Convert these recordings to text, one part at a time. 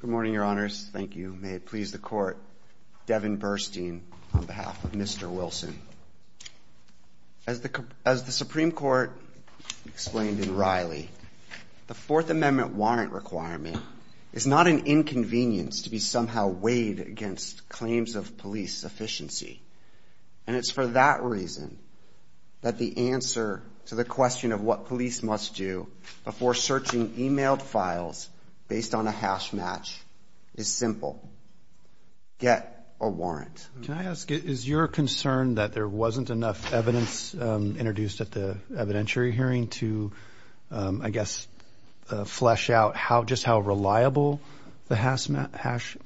Good morning, Your Honors. Thank you. May it please the Court, Devin Burstein on behalf of Mr. Wilson. As the Supreme Court explained in Riley, the Fourth Amendment warrant requirement is not an inconvenience to be somehow weighed against claims of police efficiency. And it's for that reason that the answer to the question of what police must do before searching email files based on a hash match is simple. Get a warrant. Can I ask, is your concern that there wasn't enough evidence introduced at the evidentiary hearing to, I guess, flesh out just how reliable the hash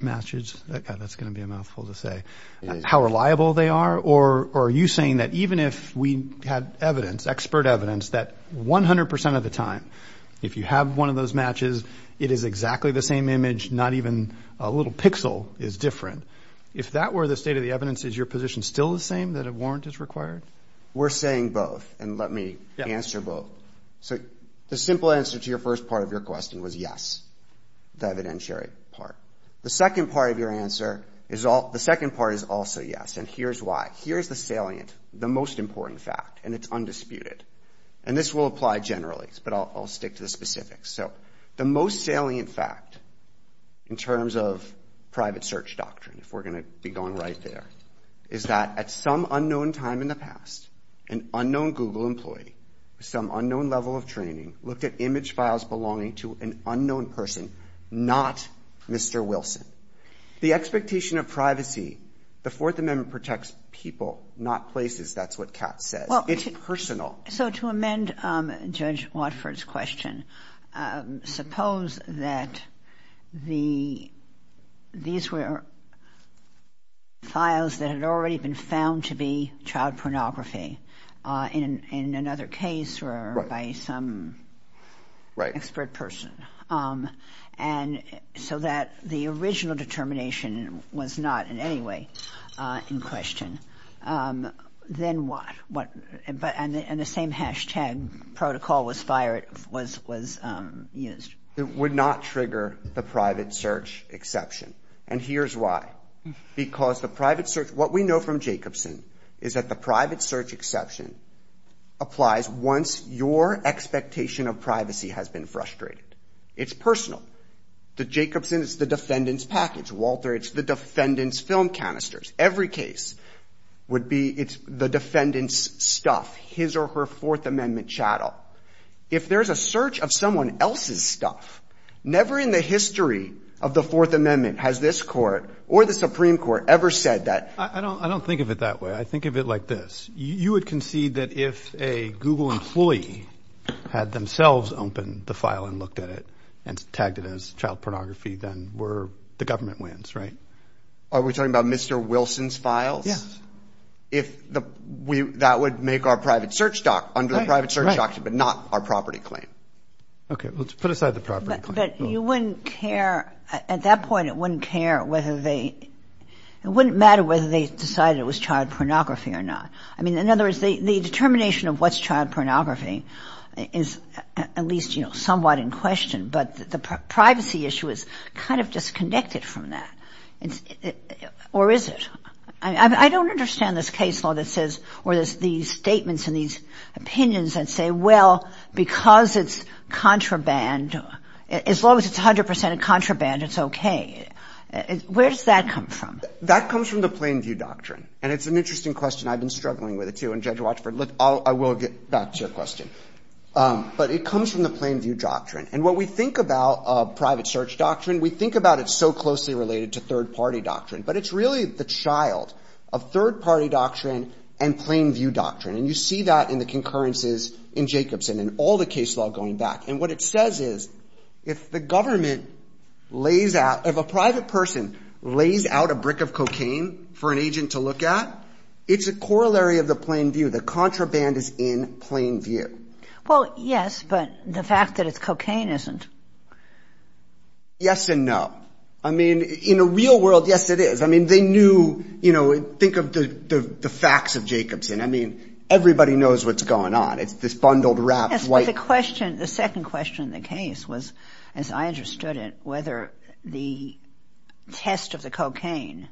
matches, that's going to be a mouthful to say, how reliable they are? Or are you saying that even if we had evidence, expert percent of the time, if you have one of those matches, it is exactly the same image, not even a little pixel is different. If that were the state of the evidence, is your position still the same, that a warrant is required? We're saying both, and let me answer both. So the simple answer to your first part of your question was yes, the evidentiary part. The second part of your answer is, the second part is also yes, and here's why. Here's the salient, the most important fact, and it's will apply generally, but I'll stick to the specifics. So the most salient fact, in terms of private search doctrine, if we're going to be going right there, is that at some unknown time in the past, an unknown Google employee, some unknown level of training, looked at image files belonging to an unknown person, not Mr. Wilson. The expectation of privacy, the Fourth Amendment protects people, not places, that's what Kat says. It's personal. So to amend Judge Watford's question, suppose that these were files that had already been found to be child pornography, in another case or by some expert person, and so that the original determination was not in any way in question, then what? And the same hashtag protocol was fired, was used. It would not trigger the private search exception, and here's why. Because the private search, what we know from Jacobson, is that the private search exception applies once your expectation of privacy has been frustrated. It's personal. The Jacobson, it's the defendant's package. Walter, it's the defendant's film canisters. Every case would be, it's the defendant's stuff, his or her Fourth Amendment chattel. If there's a search of someone else's stuff, never in the history of the Fourth Amendment has this Court or the Supreme Court ever said that. I don't think of it that way. I think of it like this. You would concede that if a Google employee had themselves opened the file and looked at it and tagged it as child pornography, then we're, the government wins, right? Are we talking about Mr. Wilson's files? Yes. If the, we, that would make our private search doc, under the private search doctrine, but not our property claim. Okay. Well, let's put aside the property claim. But you wouldn't care, at that point it wouldn't care whether they, it wouldn't matter whether they decided it was child pornography or not. I mean, in other words, the determination of what's child pornography is at least, you know, somewhat in question. But the privacy issue is kind of disconnected from that. Or is it? I mean, I don't understand this case law that says, or these statements and these opinions that say, well, because it's contraband, as long as it's 100 percent contraband, it's okay. Where does that come from? That comes from the plain view doctrine. And it's an interesting question. I've been struggling with it too. And Judge Watchford, look, I will get back to your question. But it comes from the plain view doctrine. And what we think about private search doctrine, we think about it so closely related to third party doctrine. But it's really the child of third party doctrine and plain view doctrine. And you see that in the concurrences in Jacobson and all the case law going back. And what it says is, if the government lays out, if a private person lays out a brick of cocaine for an agent to look at, it's a corollary of the plain view. The contraband is in plain view. Well, yes, but the fact that it's cocaine isn't. Yes and no. I mean, in a real world, yes, it is. I mean, they knew, you know, think of the facts of Jacobson. I mean, everybody knows what's going on. It's this bundled, wrapped, white... Yes, but the question, the second question in the case was, as I understood it, whether the test of the cocaine,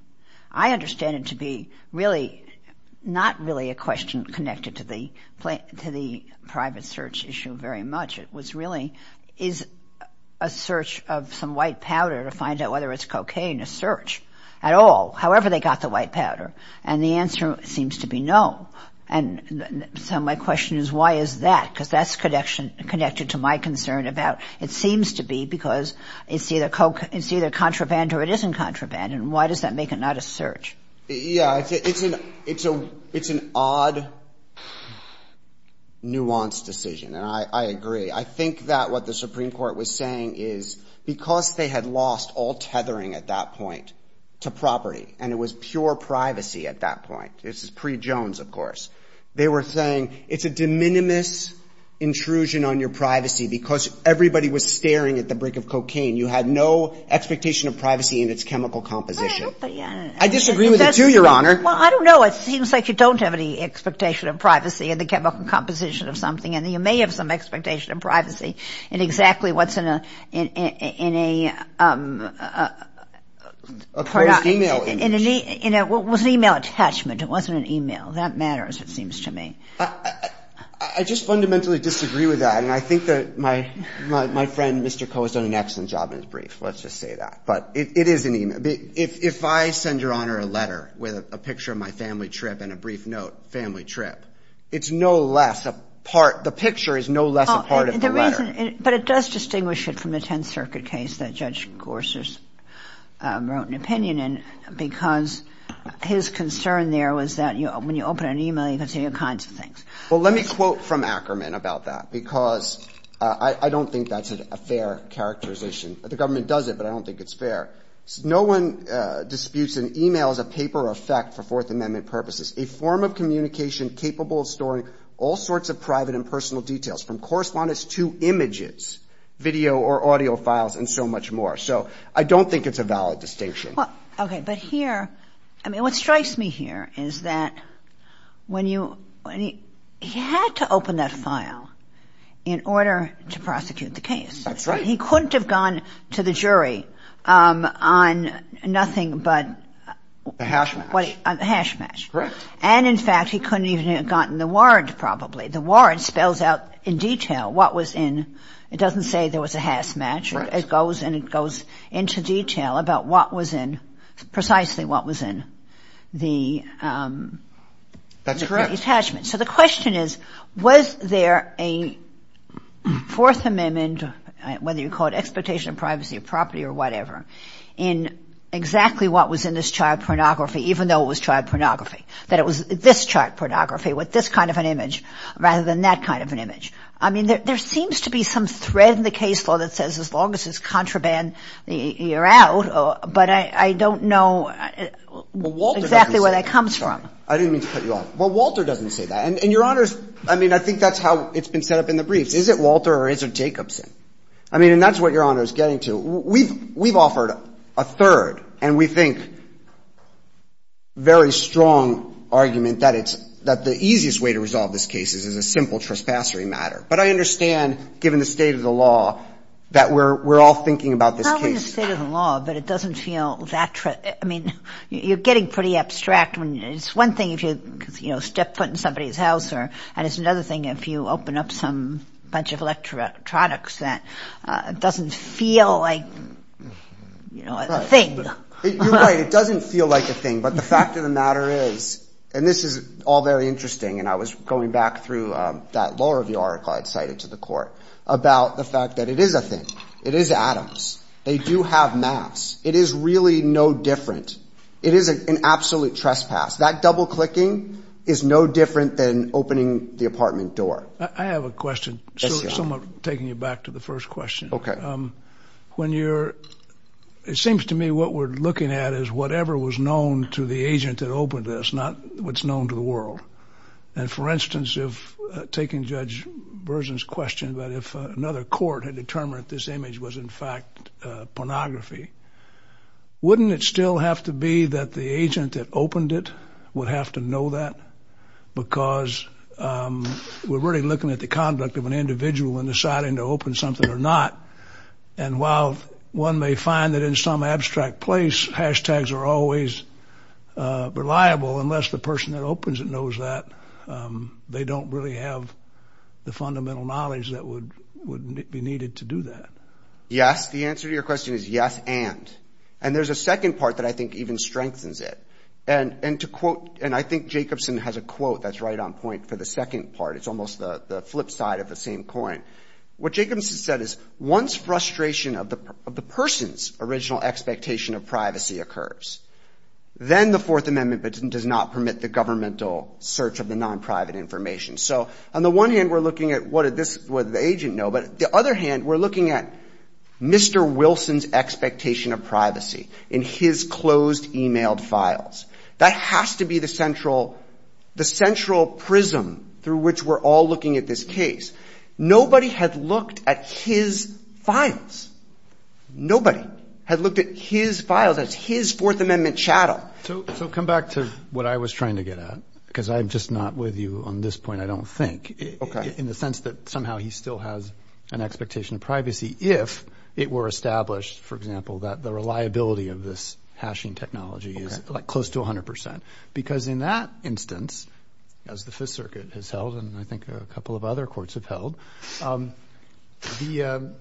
I understand it to be really not really a question connected to the private search issue very much. It was really, is a search of some white powder to find out whether it's cocaine a search at all, however they got the white powder? And the answer seems to be no. And so my question is, why is that? Because that's connected to my concern about, it seems to be because it's either contraband or it isn't contraband. And why does that make it not a search? Yeah, it's an odd, nuanced decision. And I agree. I think that what the Supreme Court was saying is, because they had lost all tethering at that point to property, and it was pure privacy at that point, this is pre-Jones, of course, they were saying, it's a de minimis intrusion on your privacy because everybody was staring at the brick of cocaine. You had no expectation of privacy in its chemical composition. I disagree with it, too, Your Honor. Well, I don't know. It seems like you don't have any expectation of privacy in the chemical composition of something. And you may have some expectation of privacy in exactly what's in a... A closed e-mail address. It was an e-mail attachment. It wasn't an e-mail. That matters, it seems to me. I just fundamentally disagree with that. And I think that my friend, Mr. Coe, has done an excellent job in his brief. Let's just say that. But it is an e-mail. If I send Your Honor a letter with a picture of my family trip and a brief note, family trip, it's no less a part, the picture is no less a part of the letter. But it does distinguish it from the Tenth Circuit case that Judge Gorsuch wrote an opinion in because his concern there was that when you open an e-mail, you can see all kinds of things. Well, let me quote from Ackerman about that because I don't think that's a fair characterization. The government does it, but I don't think it's fair. No one disputes an e-mail as a paper of fact for Fourth Amendment purposes. A form of communication capable of storing all sorts of private and personal details from correspondence to images, video or audio files and so much more. So I don't think it's a valid distinction. Well, okay. But here, I mean, what strikes me here is that when you, he had to open that file in order to prosecute the case. That's right. He couldn't have gone to the jury on nothing but... A hash match. A hash match. Correct. And, in fact, he couldn't even have gotten the warrant probably. The warrant spells out in detail what was in. It doesn't say there was a hash match. Correct. It goes, and it goes into detail about what was in, precisely what was in the... That's correct. ...attachment. So the question is, was there a Fourth Amendment, whether you call it expectation of privacy or property or whatever, in exactly what was in this child pornography, even though it was child pornography? That it was this child pornography with this kind of an image rather than that kind of an image. I mean, there seems to be some thread in the case law that says as long as it's contraband, you're out. But I don't know exactly where that comes from. Well, Walter doesn't say that. I didn't mean to put you off. Well, Walter doesn't say that. And, Your Honors, I mean, I think that's how it's been set up in the briefs. Is it Walter or is it Jacobson? I mean, and that's what Your Honor is getting to. We've offered a third, and we think very strong argument that it's, that the easiest way to resolve this case is a simple trespassery matter. But I understand, given the state of the law, that we're all thinking about this case. Not in the state of the law, but it doesn't feel that, I mean, you're getting pretty abstract when, it's one thing if you step foot in somebody's house, and it's another thing if you open up some bunch of electronics that doesn't feel like, you know, a thing. You're right. It doesn't feel like a thing. But the fact of the matter is, and this is all very interesting, and I was going back through that law review article I'd cited to the court about the fact that it is a thing. It is Adams. They do have maps. It is really no different. It is an absolute trespass. That double-clicking is no different than opening the apartment door. I have a question, somewhat taking you back to the first question. Okay. When you're, it seems to me what we're looking at is whatever was known to the agent that questioned, but if another court had determined that this image was in fact pornography, wouldn't it still have to be that the agent that opened it would have to know that? Because we're really looking at the conduct of an individual in deciding to open something or not, and while one may find that in some abstract place, hashtags are always reliable, unless the person that opens it knows that, they don't really have the fundamental knowledge that would be needed to do that. Yes. The answer to your question is yes and. And there's a second part that I think even strengthens it. And to quote, and I think Jacobson has a quote that's right on point for the second part. It's almost the flip side of the same coin. What Jacobson said is once frustration of the person's original expectation of privacy occurs, then the Fourth of the non-private information. So on the one hand, we're looking at what did the agent know? But the other hand, we're looking at Mr. Wilson's expectation of privacy in his closed emailed files. That has to be the central, the central prism through which we're all looking at this case. Nobody had looked at his files. Nobody had looked at his files as his Fourth Amendment chattel. So come back to what I was trying to get at, because I'm just not with you on this point, I don't think. In the sense that somehow he still has an expectation of privacy if it were established, for example, that the reliability of this hashing technology is close to 100%. Because in that instance, as the Fifth Circuit has held, and I think a couple of other courts have held,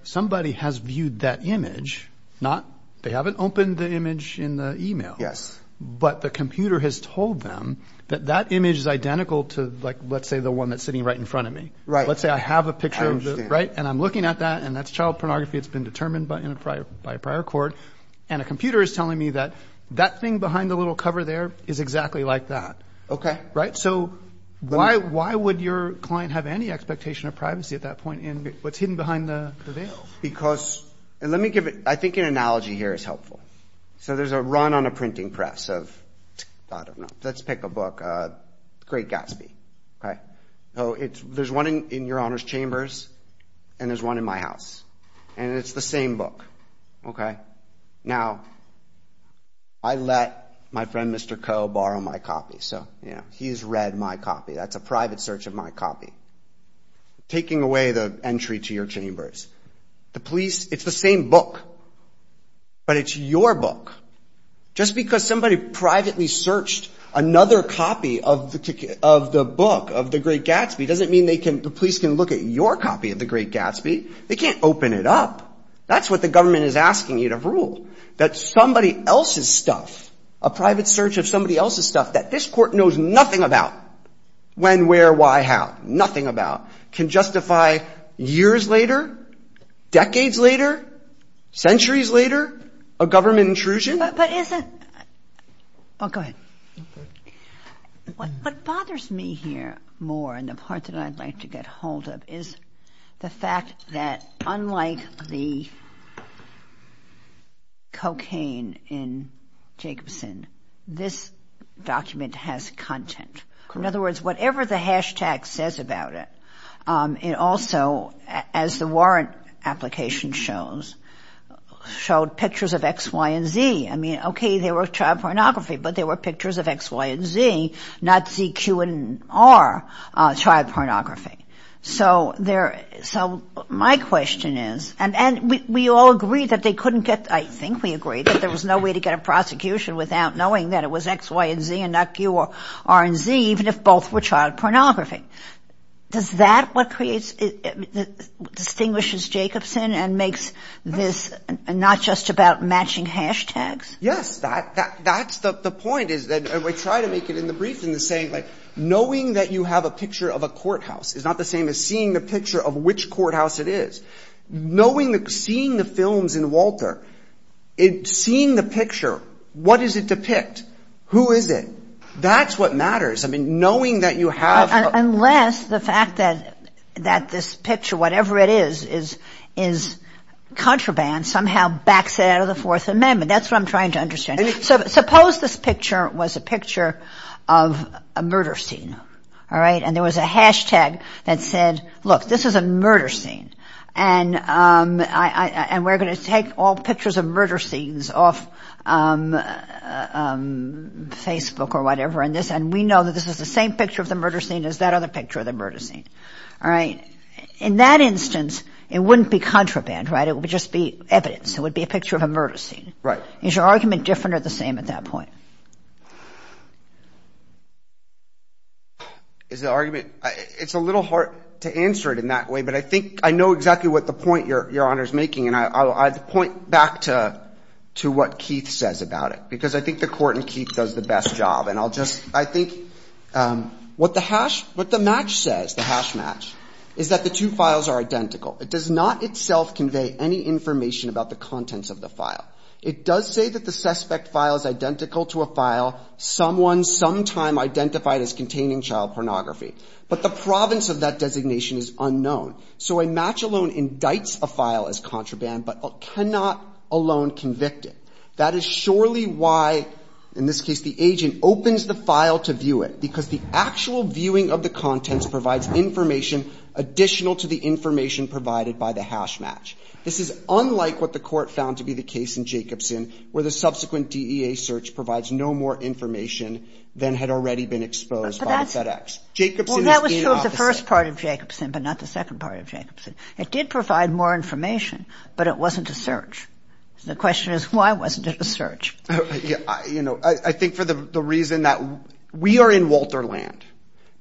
somebody has viewed that image. They haven't opened the image in the email. But the computer has told them that that image is identical to, let's say, the one that's sitting right in front of me. Let's say I have a picture, and I'm looking at that, and that's child pornography. It's been determined by a prior court. And a computer is telling me that that thing behind the little cover there is exactly like that. So why would your client have any expectation of privacy at that point in what's hidden behind the veil? Because, and let me give, I think an analogy here is helpful. So there's a run on a printing press of, I don't know, let's pick a book, Great Gatsby. There's one in your Honor's Chambers, and there's one in my house. And it's the same book. Now, I let my friend Mr. Coe borrow my copy, so he's read my copy. That's a private search of my copy. Taking away the entry to your chambers. The police, it's the same book, but it's your book. Just because somebody privately searched another copy of the book, of the Great Gatsby, doesn't mean the police can look at your copy of the Great Gatsby. They can't open it up. That's what the government is asking you to rule. That somebody else's stuff, a private search of somebody else's stuff that this court knows nothing about, when, where, why, how, nothing about, can justify years later, decades later, centuries later, a government intrusion? But isn't, oh, go ahead. What bothers me here more, and the part that I'd like to get hold of, is the fact that unlike the cocaine in Jacobson, this document has content. In other words, it also, as the warrant application shows, showed pictures of X, Y, and Z. I mean, okay, they were child pornography, but they were pictures of X, Y, and Z, not Z, Q, and R child pornography. So there, so my question is, and we all agreed that they couldn't get, I think we agreed that there was no way to get a prosecution without knowing that it was X, Y, and Z, and not Q, or R, and Z, even if both were child pornography. Does that what creates, distinguishes Jacobson, and makes this not just about matching hashtags? Yes, that's the point, is that, and we try to make it in the brief in the same, like, knowing that you have a picture of a courthouse is not the same as seeing the picture of which courthouse it is. Knowing the, seeing the films in Walter, it, seeing the picture, what does it depict? Who is it? That's what matters. I mean, knowing that you have... Unless the fact that, that this picture, whatever it is, is, is contraband, somehow backs it out of the Fourth Amendment. That's what I'm trying to understand. Suppose this picture was a picture of a murder scene, all right? And there was a hashtag that said, look, this is a murder scene, and I, I, and we're going to take all pictures of murder scenes off Facebook, or whatever, and this, and we know that this is the same picture of the murder scene as that other picture of the murder scene, all right? In that instance, it wouldn't be contraband, right? It would just be evidence. It would be a picture of a murder scene. Right. Is your argument different or the same at that point? Is the argument, it's a little hard to answer it in that way, but I think, I know exactly what the point Your Honor's making, and I, I'll point back to, to what Keith says about it, because I think the court in Keith does the best job, and I'll just, I think, what the hash, what the match says, the hash match, is that the two files are identical. It does not itself convey any information about the contents of the file. It does say that the suspect file is identical to a file someone sometime identified as containing child pornography, but the province of that designation is unknown. So a match alone indicts a file as contraband, but cannot alone convict it. That is surely why, in this case, the agent opens the file to view it, because the actual viewing of the contents provides information additional to the information provided by the hash match. This is unlike what the court found to be the case in Jacobson, where the subsequent DEA search provides no more information than had already been exposed by the FedEx. Jacobson is the opposite. Well, that was true of the first part of Jacobson, but not the second part of Jacobson. It did provide more information, but it wasn't a search. The question is, why wasn't it a search? You know, I, I think for the, the reason that we are in Walterland,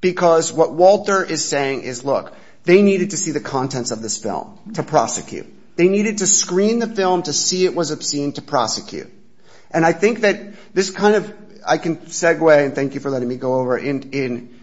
because what Walter is saying is, look, they needed to see the contents of this film to prosecute. They needed to screen the film to see it was obscene to prosecute. And I think that this kind of, I can segue, and thank you for letting me go over, in, in,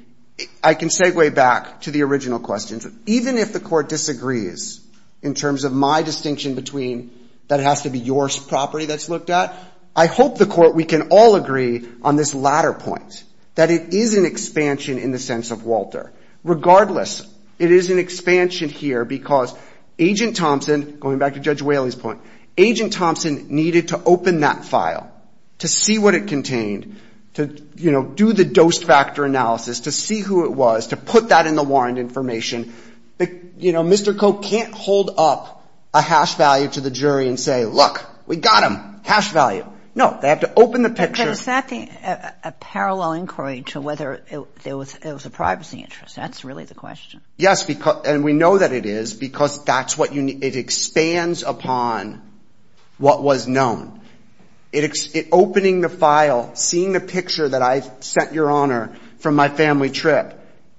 I can segue back to the original questions. Even if the court disagrees, in terms of my distinction between, that it has to be your property that's looked at, I hope the court, we can all agree on this latter point, that it is an expansion in the sense of Walter. Regardless, it is an expansion here because Agent Thompson, going back to Judge Whaley's point, Agent Thompson needed to open that file to see what it contained, to, you know, do the dose factor analysis, to see who it was, to put that in the warrant information. But, you know, Mr. Koch can't hold up a hash value to the jury and say, look, we got him, hash value. No, they have to open the picture. But it's not the, a, a parallel inquiry to whether it was, it was a privacy interest. That's really the question. Yes, because, and we know that it is because that's what you need, it expands upon what was known. It, it, opening the file, seeing the picture that I sent Your Honor from my family trip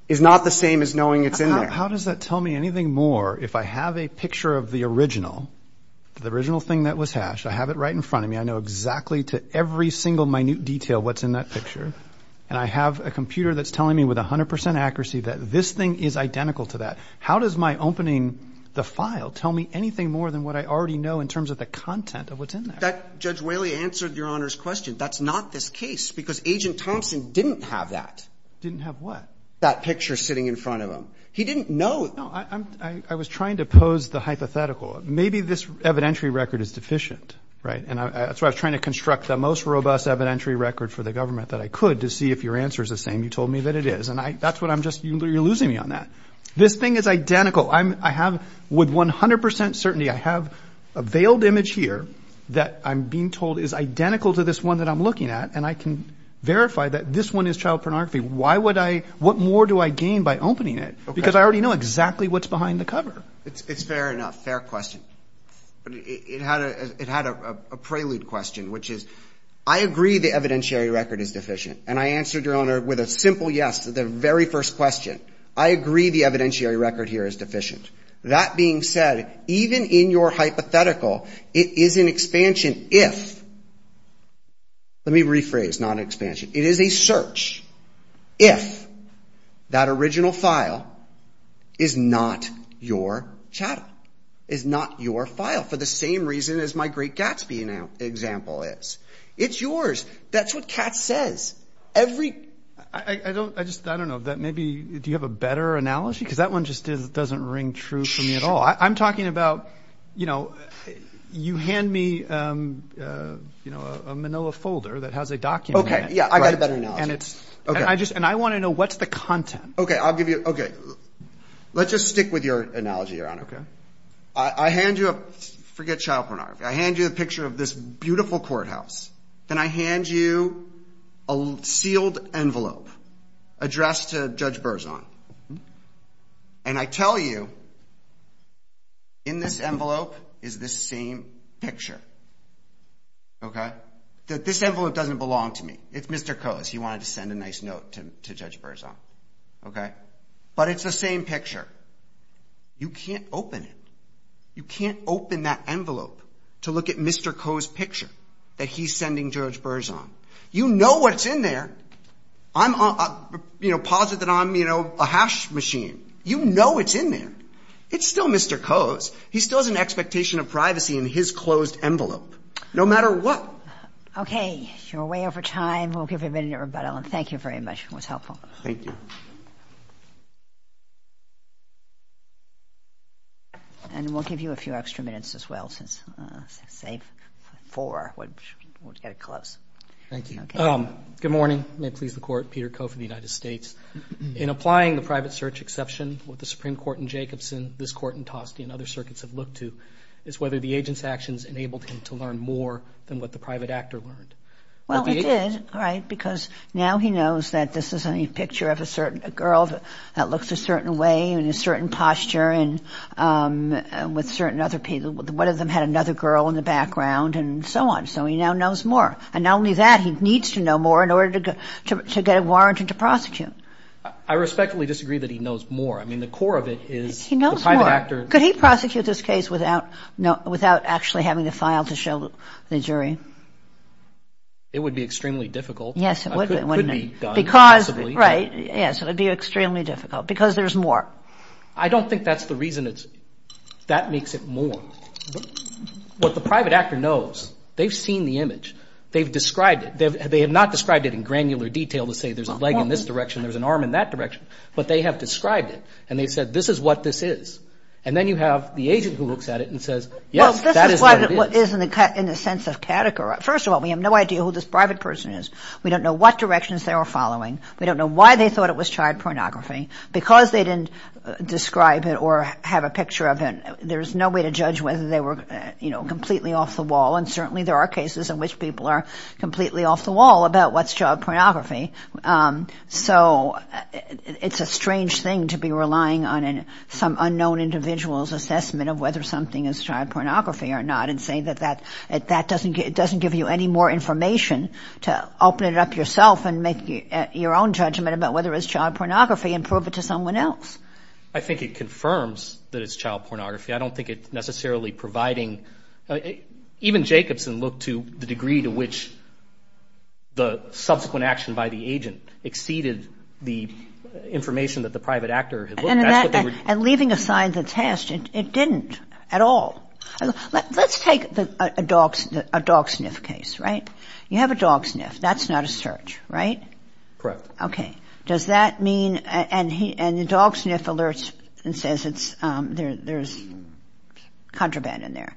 is not the same as knowing it's in there. How does that tell me anything more, if I have a picture of the original, the original thing that was hashed, I have it right in front of me, I know exactly to every single minute detail what's in that picture, and I have a computer that's telling me with 100 percent accuracy that this thing is identical to that, how does my opening the file tell me anything more than what I already know in terms of the content of what's in there? That, Judge Whaley answered Your Honor's question. That's not this case, because Agent Thompson didn't have that. Didn't have what? That picture sitting in front of him. He didn't know. No, I'm, I, I was trying to pose the hypothetical. Maybe this evidentiary record is deficient, right? And I, that's why I was trying to construct the most robust evidentiary record for the government that I could to see if your answer is the same you told me that it is. And I, that's what I'm just, you're losing me on that. This thing is identical. I'm, I have, with 100 percent certainty, I have a veiled image here that I'm being told is identical to this one that I'm looking at, and I can verify that this one is child pornography. Why would I, what more do I gain by opening it? Because I already know exactly what's behind the cover. It's fair enough. Fair question. But it, it had a, it had a, a prelude question, which is, I agree the evidentiary record is deficient. And I answered your Honor with a simple yes to the very first question. I agree the evidentiary record here is deficient. That being said, even in your hypothetical, it is an expansion if, let me rephrase, not an expansion. It is a search if that original file is not your child, is not your file for the same reason as my great Gatsby example is. It's yours. That's what Katz says. Every... I, I don't, I just, I don't know that maybe, do you have a better analogy? Because that one just is, doesn't ring true for me at all. I'm talking about, you know, you hand me, um, uh, you know, a Manila folder that has a document. Okay. Yeah. I got a better analogy. And it's... Okay. And I just, and I want to know what's the content. Okay. I'll give you, okay. Let's just stick with your analogy, Your Honor. Okay. I, I hand you a... Forget child pornography. I hand you a picture of this beautiful courthouse. Then I hand you a sealed envelope addressed to Judge Berzon. And I tell you, in this envelope is this same picture, okay? This envelope doesn't belong to me. It's Mr. Coe's. He wanted to send a nice note to, to Judge Berzon, okay? But it's the same picture. You can't open it. You can't open that envelope to look at Mr. Coe's picture that he's sending Judge Berzon. You know what's in there. I'm, uh, you know, positive that I'm, you know, a hash machine. You know it's in there. It's still Mr. Coe's. He still has an expectation of privacy in his closed envelope. No matter what. Okay. You're way over time. We'll give you a minute to rebuttal. And thank you very much. It was helpful. Thank you. And we'll give you a few extra minutes as well, since, uh, say, four would, would get it close. Thank you. Okay. Um, good morning. May it please the Court. Peter Coe for the United States. In applying the private search exception, what the Supreme Court in Jacobson, this Court in Toste, and other circuits have looked to is whether the agent's actions enabled him to learn more than what the private actor learned. Well, he did, right, because now he knows that this is a picture of a certain girl that looks a certain way and a certain posture and, um, with certain other people. One of them had another girl in the background and so on. So he now knows more. And not only that, he needs to know more in order to get a warrant and to prosecute. I respectfully disagree that he knows more. He knows more. But could he prosecute this case without, no, without actually having to file to show the jury? It would be extremely difficult. Yes, it would, wouldn't it? It could be done, possibly. Because, right, yes, it would be extremely difficult. Because there's more. I don't think that's the reason it's, that makes it more. What the private actor knows, they've seen the image. They've described it. They have not described it in granular detail to say there's a leg in this direction, there's an arm in that direction. But they have described it. And they've said, this is what this is. And then you have the agent who looks at it and says, yes, that is what it is. Well, this is what it is in the sense of categorizing. First of all, we have no idea who this private person is. We don't know what directions they were following. We don't know why they thought it was child pornography. Because they didn't describe it or have a picture of it, there's no way to judge whether they were, you know, completely off the wall. And certainly there are cases in which people are completely off the wall about what's child pornography. So it's a strange thing to be relying on some unknown individual's assessment of whether something is child pornography or not and say that that doesn't give you any more information to open it up yourself and make your own judgment about whether it's child pornography and prove it to someone else. I think it confirms that it's child pornography. I don't think it's necessarily providing, even Jacobson looked to the degree to which the subsequent action by the agent exceeded the information that the private actor had looked. And leaving aside the test, it didn't at all. Let's take a dog sniff case, right? You have a dog sniff. That's not a search, right? Correct. Okay. Does that mean, and the dog sniff alerts and says there's contraband in there.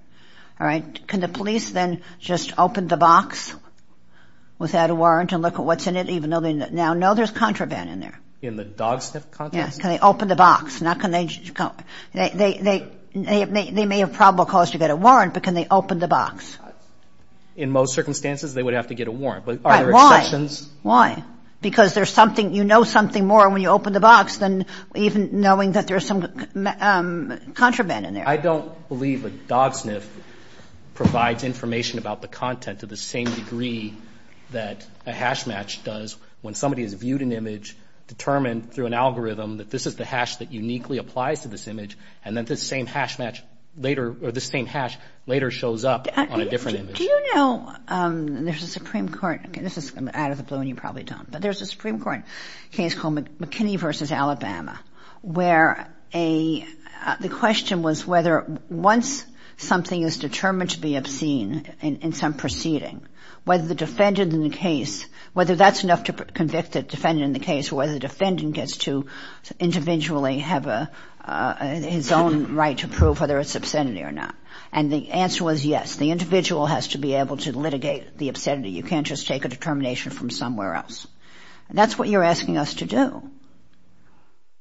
All right. Can the police then just open the box without a warrant and look at what's in it even though they now know there's contraband in there? In the dog sniff context? Yes. Can they open the box? They may have probable cause to get a warrant, but can they open the box? In most circumstances, they would have to get a warrant. But are there exceptions? Why? Why? Because there's something, you know something more when you open the box than even knowing that there's some contraband in there. I don't believe a dog sniff provides information about the content to the same degree that a hash match does when somebody has viewed an image, determined through an algorithm that this is the hash that uniquely applies to this image and then this same hash later shows up on a different image. Do you know there's a Supreme Court, this is out of the blue and you probably don't, but there's a Supreme Court case called McKinney v. Alabama where the question was whether once something is determined to be obscene in some proceeding, whether the defendant in the case, whether that's enough to convict the defendant in the case or whether the defendant gets to individually have his own right to prove whether it's obscenity or not. And the answer was yes. The individual has to be able to litigate the obscenity. You can't just take a determination from somewhere else. And that's what you're asking us to do.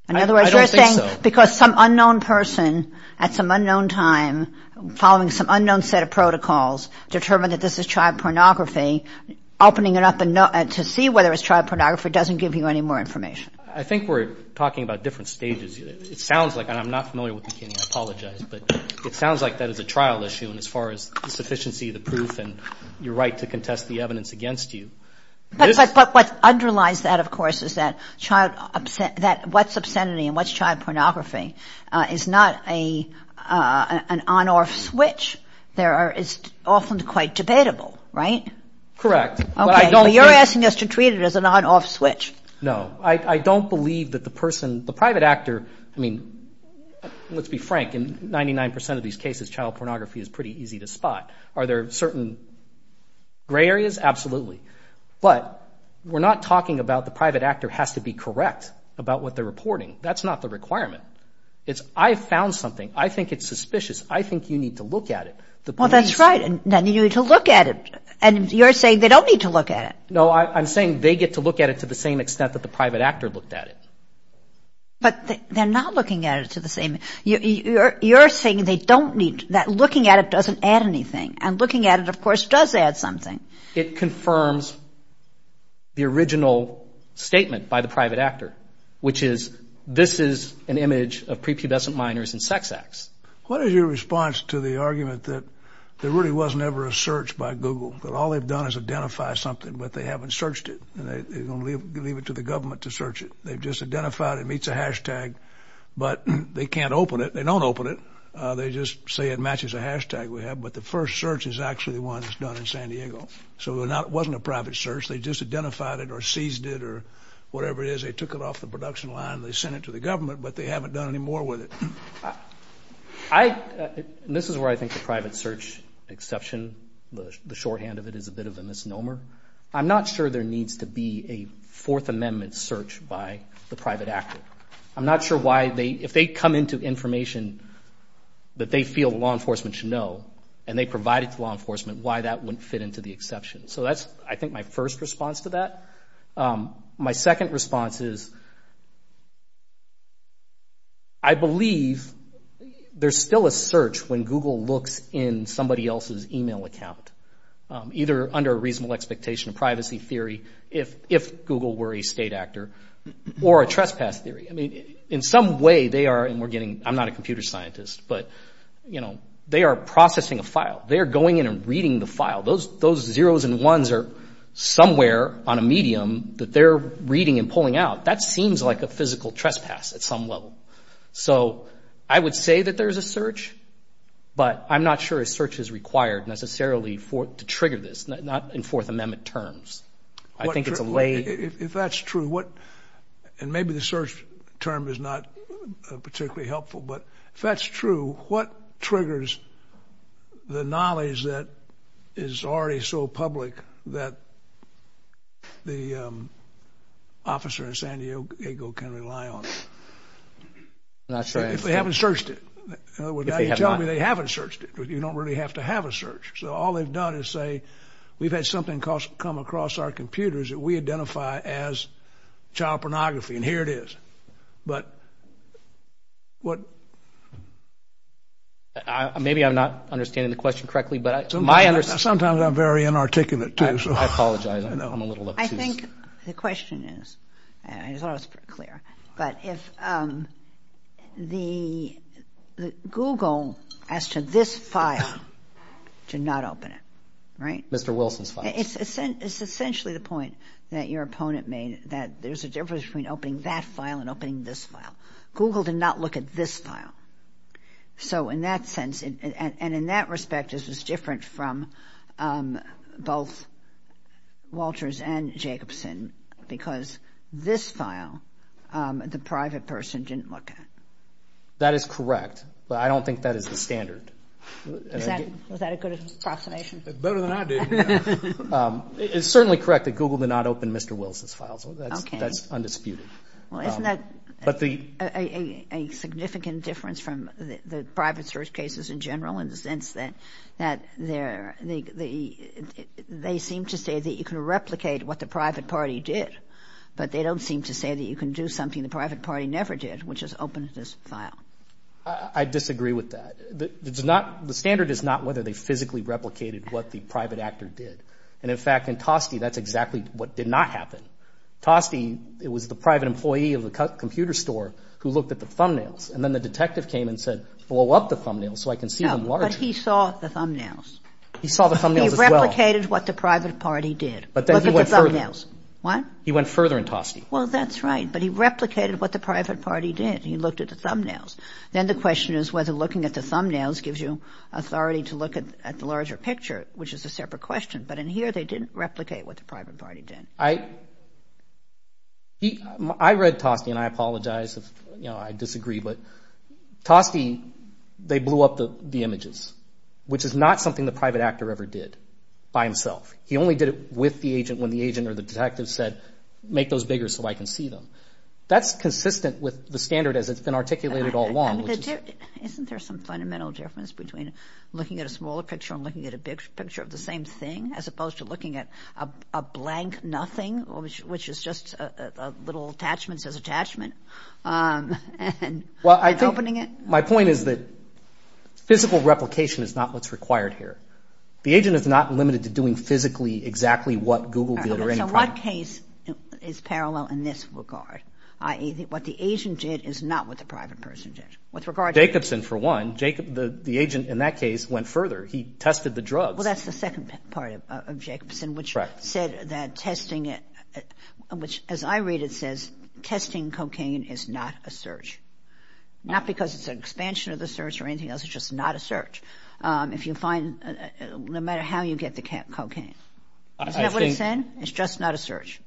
I don't think so. Because some unknown person at some unknown time, following some unknown set of protocols, determined that this is child pornography, opening it up to see whether it's child pornography doesn't give you any more information. I think we're talking about different stages. It sounds like, and I'm not familiar with McKinney, I apologize, but it sounds like that is a trial issue as far as the sufficiency of the proof and your right to contest the evidence against you. But what underlies that, of course, is that what's obscenity and what's child pornography is not an on-off switch. It's often quite debatable, right? Correct. But you're asking us to treat it as an on-off switch. No. I don't believe that the person, the private actor, I mean, let's be frank, in 99% of these cases child pornography is pretty easy to spot. Are there certain gray areas? Yes, absolutely. But we're not talking about the private actor has to be correct about what they're reporting. That's not the requirement. I've found something. I think it's suspicious. I think you need to look at it. Well, that's right. Then you need to look at it. And you're saying they don't need to look at it. No, I'm saying they get to look at it to the same extent that the private actor looked at it. But they're not looking at it to the same... You're saying that looking at it doesn't add anything. And looking at it, of course, does add something. It confirms the original statement by the private actor, which is this is an image of prepubescent minors in sex acts. What is your response to the argument that there really wasn't ever a search by Google? That all they've done is identify something, but they haven't searched it. And they're going to leave it to the government to search it. They've just identified it meets a hashtag, but they can't open it. They don't open it. They just say it matches a hashtag we have. But the first search is actually the one that's done in San Diego. So it wasn't a private search. They just identified it or seized it or whatever it is. They took it off the production line. They sent it to the government, but they haven't done any more with it. I... And this is where I think the private search exception, the shorthand of it, is a bit of a misnomer. I'm not sure there needs to be a Fourth Amendment search by the private actor. I'm not sure why they... If they come into information that they feel law enforcement should know and they provide it to law enforcement, why that wouldn't fit into the exception? So that's, I think, my first response to that. My second response is... I believe there's still a search when Google looks in somebody else's email account, either under a reasonable expectation of privacy theory, if Google were a state actor, or a trespass theory. I mean, in some way, they are... I mean, I'm not a computer scientist, but, you know, they are processing a file. They are going in and reading the file. Those zeros and ones are somewhere on a medium that they're reading and pulling out. That seems like a physical trespass at some level. So I would say that there's a search, but I'm not sure a search is required necessarily to trigger this, not in Fourth Amendment terms. I think it's a lay... If that's true, what... And maybe the search term is not particularly helpful, but if that's true, what triggers the knowledge that is already so public that the officer in San Diego can rely on? I'm not sure. If they haven't searched it. In other words, now you're telling me they haven't searched it. You don't really have to have a search. So all they've done is say, we've had something come across our computers that we identify as child pornography, and here it is. But what... Maybe I'm not understanding the question correctly, but my understanding... Sometimes I'm very inarticulate, too. I apologize. I'm a little... I think the question is... I thought I was pretty clear. Google asked for this file to not open it, right? Mr. Wilson's file. It's essentially the point that your opponent made that there's a difference between opening that file and opening this file. Google did not look at this file. So in that sense... And in that respect, this was different from both Walters and Jacobson, because this file, the private person didn't look at. That is correct, but I don't think that is the standard. Was that a good approximation? Better than I did. It's certainly correct that Google did not open Mr. Wilson's file, so that's undisputed. Well, isn't that a significant difference from the private search cases in general in the sense that they seem to say that you can replicate what the private party did, but they don't seem to say that you can do something the private party never did, which is open this file. I disagree with that. The standard is not whether they physically replicated what the private actor did. And in fact, in Toste, that's exactly what did not happen. Toste, it was the private employee of the computer store who looked at the thumbnails, and then the detective came and said, blow up the thumbnails so I can see them larger. No, but he saw the thumbnails. He saw the thumbnails as well. He replicated what the private party did. But then he went further. Look at the thumbnails. What? He went further in Toste. Well, that's right, but he replicated what the private party did. He looked at the thumbnails. Then the question is whether looking at the thumbnails gives you authority to look at the larger picture, which is a separate question. But in here, they didn't replicate what the private party did. I... He... I read Toste, and I apologize if, you know, I disagree, but Toste, they blew up the images, which is not something the private actor ever did by himself. He only did it with the agent when the agent or the detective said, make those bigger so I can see them. That's consistent with the standard as it's been articulated all along. Isn't there some fundamental difference between looking at a smaller picture and looking at a big picture of the same thing as opposed to looking at a blank nothing, which is just a little attachment says attachment, um, and opening it? Well, I think my point is that physical replication is not what's required here. The agent is not limited to doing physically exactly what Google did or any... So what case is parallel in this regard? I.e., what the agent did is not what the private person did. Jacobson, for one. The agent in that case went further. He tested the drugs. Well, that's the second part of Jacobson, which said that testing it, which, as I read it, says testing cocaine is not a search, not because it's an expansion of the search or anything else. It's just not a search. Um, if you find, no matter how you get the cocaine. Is that what it's saying? It's just not a search.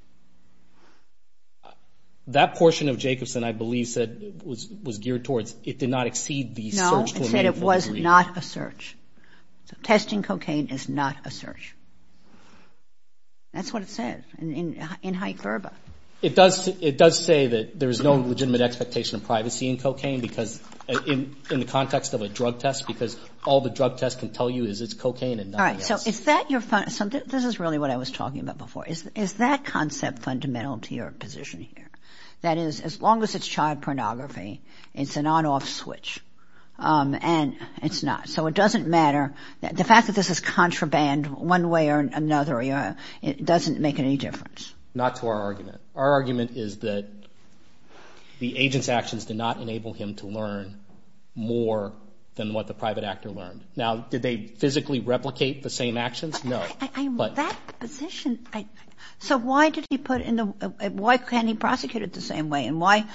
That portion of Jacobson, I believe, said, was geared towards it did not exceed the search to a meaningful degree. No, it said it was not a search. So testing cocaine is not a search. That's what it said. In high verba. It does say that there is no legitimate expectation of privacy in cocaine because, in the context of a drug test, because all the drug tests can tell you is it's cocaine and nothing else. All right, so is that your... This is really what I was talking about before. Is that concept fundamental to your position here? That is, as long as it's child pornography, it's an on-off switch. Um, and it's not. So it doesn't matter. The fact that this is contraband one way or another, it doesn't make any difference. Not to our argument. Our argument is that the agent's actions did not enable him to learn more than what the private actor learned. Now, did they physically replicate the same actions? No. That position... So why did he put in the... Why can't he prosecute it the same way? And why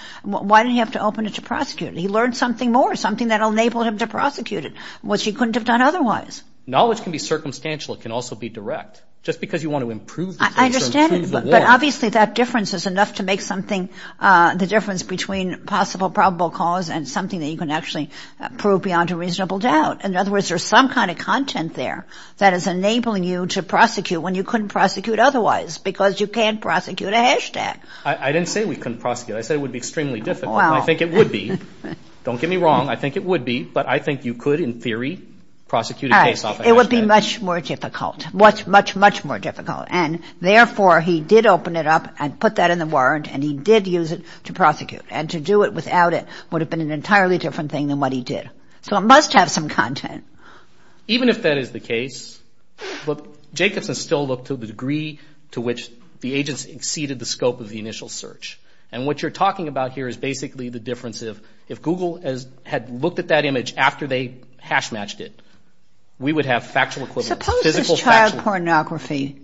did he have to open it to prosecute? He learned something more, something that'll enable him to prosecute it, which he couldn't have done otherwise. Knowledge can be circumstantial. It can also be direct. Just because you want to improve the case or improve the war... I understand, but obviously that difference is enough to make something, uh, the difference between possible, probable cause and something that you can actually prove beyond a reasonable doubt. In other words, there's some kind of content there that is enabling you to prosecute when you couldn't prosecute otherwise because you can't prosecute a hashtag. I-I didn't say we couldn't prosecute. I said it would be extremely difficult. Well... I think it would be. Don't get me wrong. I think it would be, but I think you could, in theory, prosecute a case off a hashtag. Right. It would be much more difficult. Much, much, much more difficult. And therefore, he did open it up and put that in the warrant and he did use it to prosecute. And to do it without it an entirely different thing than what he did. So it must have some content. Even if that is the case, look, Jacobson still looked to the degree to which the agents exceeded the scope of the initial search. And what you're talking about here is basically the difference of if Google has had looked at that image after they hash matched it, we would have factual equivalence, physical factual equivalence. Suppose this child pornography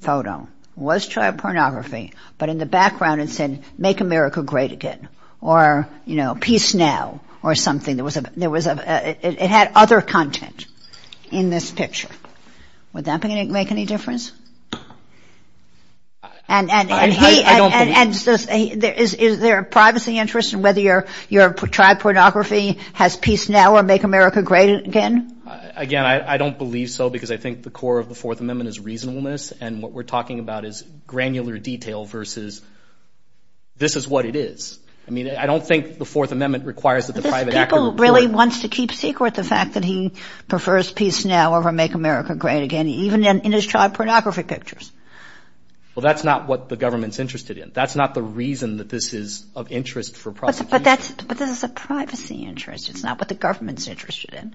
photo was child pornography, but in the background it said, Make America Great Again or, you know, Peace Now or something. There was a, there was a, it had other content in this picture. Would that make any difference? And, and, and he, and, and, and is there a privacy interest in whether your, your child pornography has Peace Now or Make America Great Again? Again, I don't believe so because I think the core of the Fourth Amendment is reasonableness and what we're talking about is granular detail versus this is what it is. I mean, I don't think the Fourth Amendment requires that the private actor report. This people really wants to keep secret the fact that he prefers Peace Now over Make America Great Again even in his child pornography pictures. Well, that's not what the government's interested in. That's not the reason that this is of interest for prosecution. But, but that's, but this is a privacy interest. It's not what the government's interested in.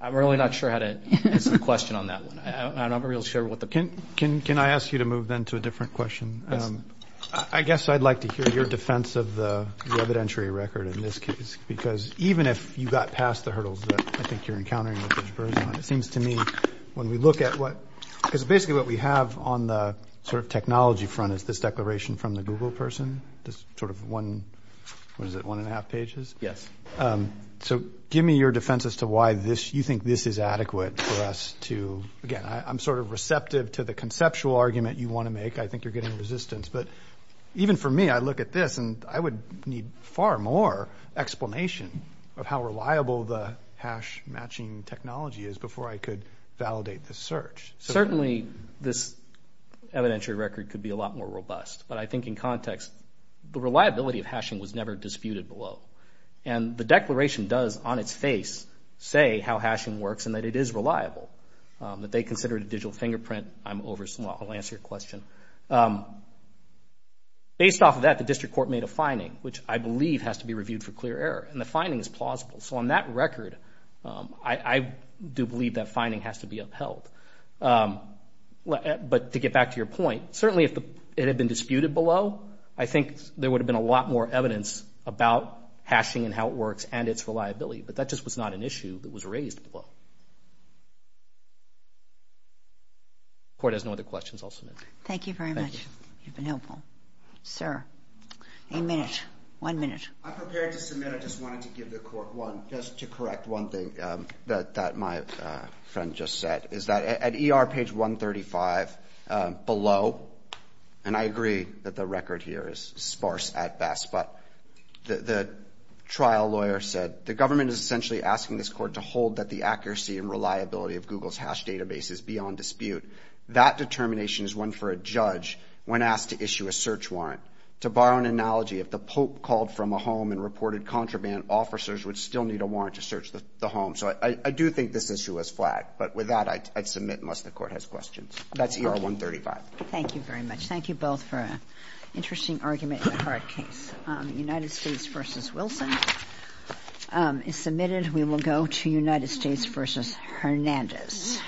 I'm really not sure how to answer the question on that one. I, I'm not real sure what the, Can, can, can I ask you to move then to a different question? Yes. I guess I'd like to hear your defense of the, the evidentiary record in this case. Because, even if you got past the hurdles that I think you're encountering with this version, it seems to me when we look at what, because basically what we have on the sort of technology front is this declaration from the Google person, this sort of one, what is it, one and a half pages? Yes. So, give me your defense as to why this, you think this is adequate for us to, again, I'm sort of receptive to the conceptual argument you want to make. I think you're getting resistance. But, even for me, I look at this and I would need far more explanation of how reliable the hash matching technology is before I could validate this search. Certainly, this evidentiary record could be a lot more robust. But, I think in context, the reliability of hashing was never disputed below. And, the declaration does, on its face, say how hashing works and that it is reliable. That they considered a digital fingerprint, I'm over, well, I'll answer your question later on. Based off of that, the district court made a finding, which I believe has to be reviewed for clear error. And, the finding is plausible. So, on that record, I do believe that finding has to be upheld. But, to get back to your point, certainly, if it had been disputed below, I think there would have been a lot more evidence about hashing and how it works and its reliability. But, that just was not an issue that was raised below. If the court has no other questions, I'll submit. Thank you. You've been helpful. Sir, a minute, one minute. I'm prepared to submit. I just wanted to give the court one, just to correct one thing that my friend just said. Is that, at ER page 135, below, and I agree that the record here is sparse at best, but, the trial lawyer said, the government is essentially asking this court to hold that the accuracy and reliability of Google's hash database is beyond dispute. That determination is one for a judge when asked to issue a search warrant. To borrow an analogy, if the Pope called from a home and reported contraband, officers would still need a warrant to search the home. So, I do think this issue was flagged. But, with that, I'd submit unless the court has questions. That's ER 135. Thank you very much. Thank you both for an interesting argument in a hard case. United States v. Wilson is submitted. We will go to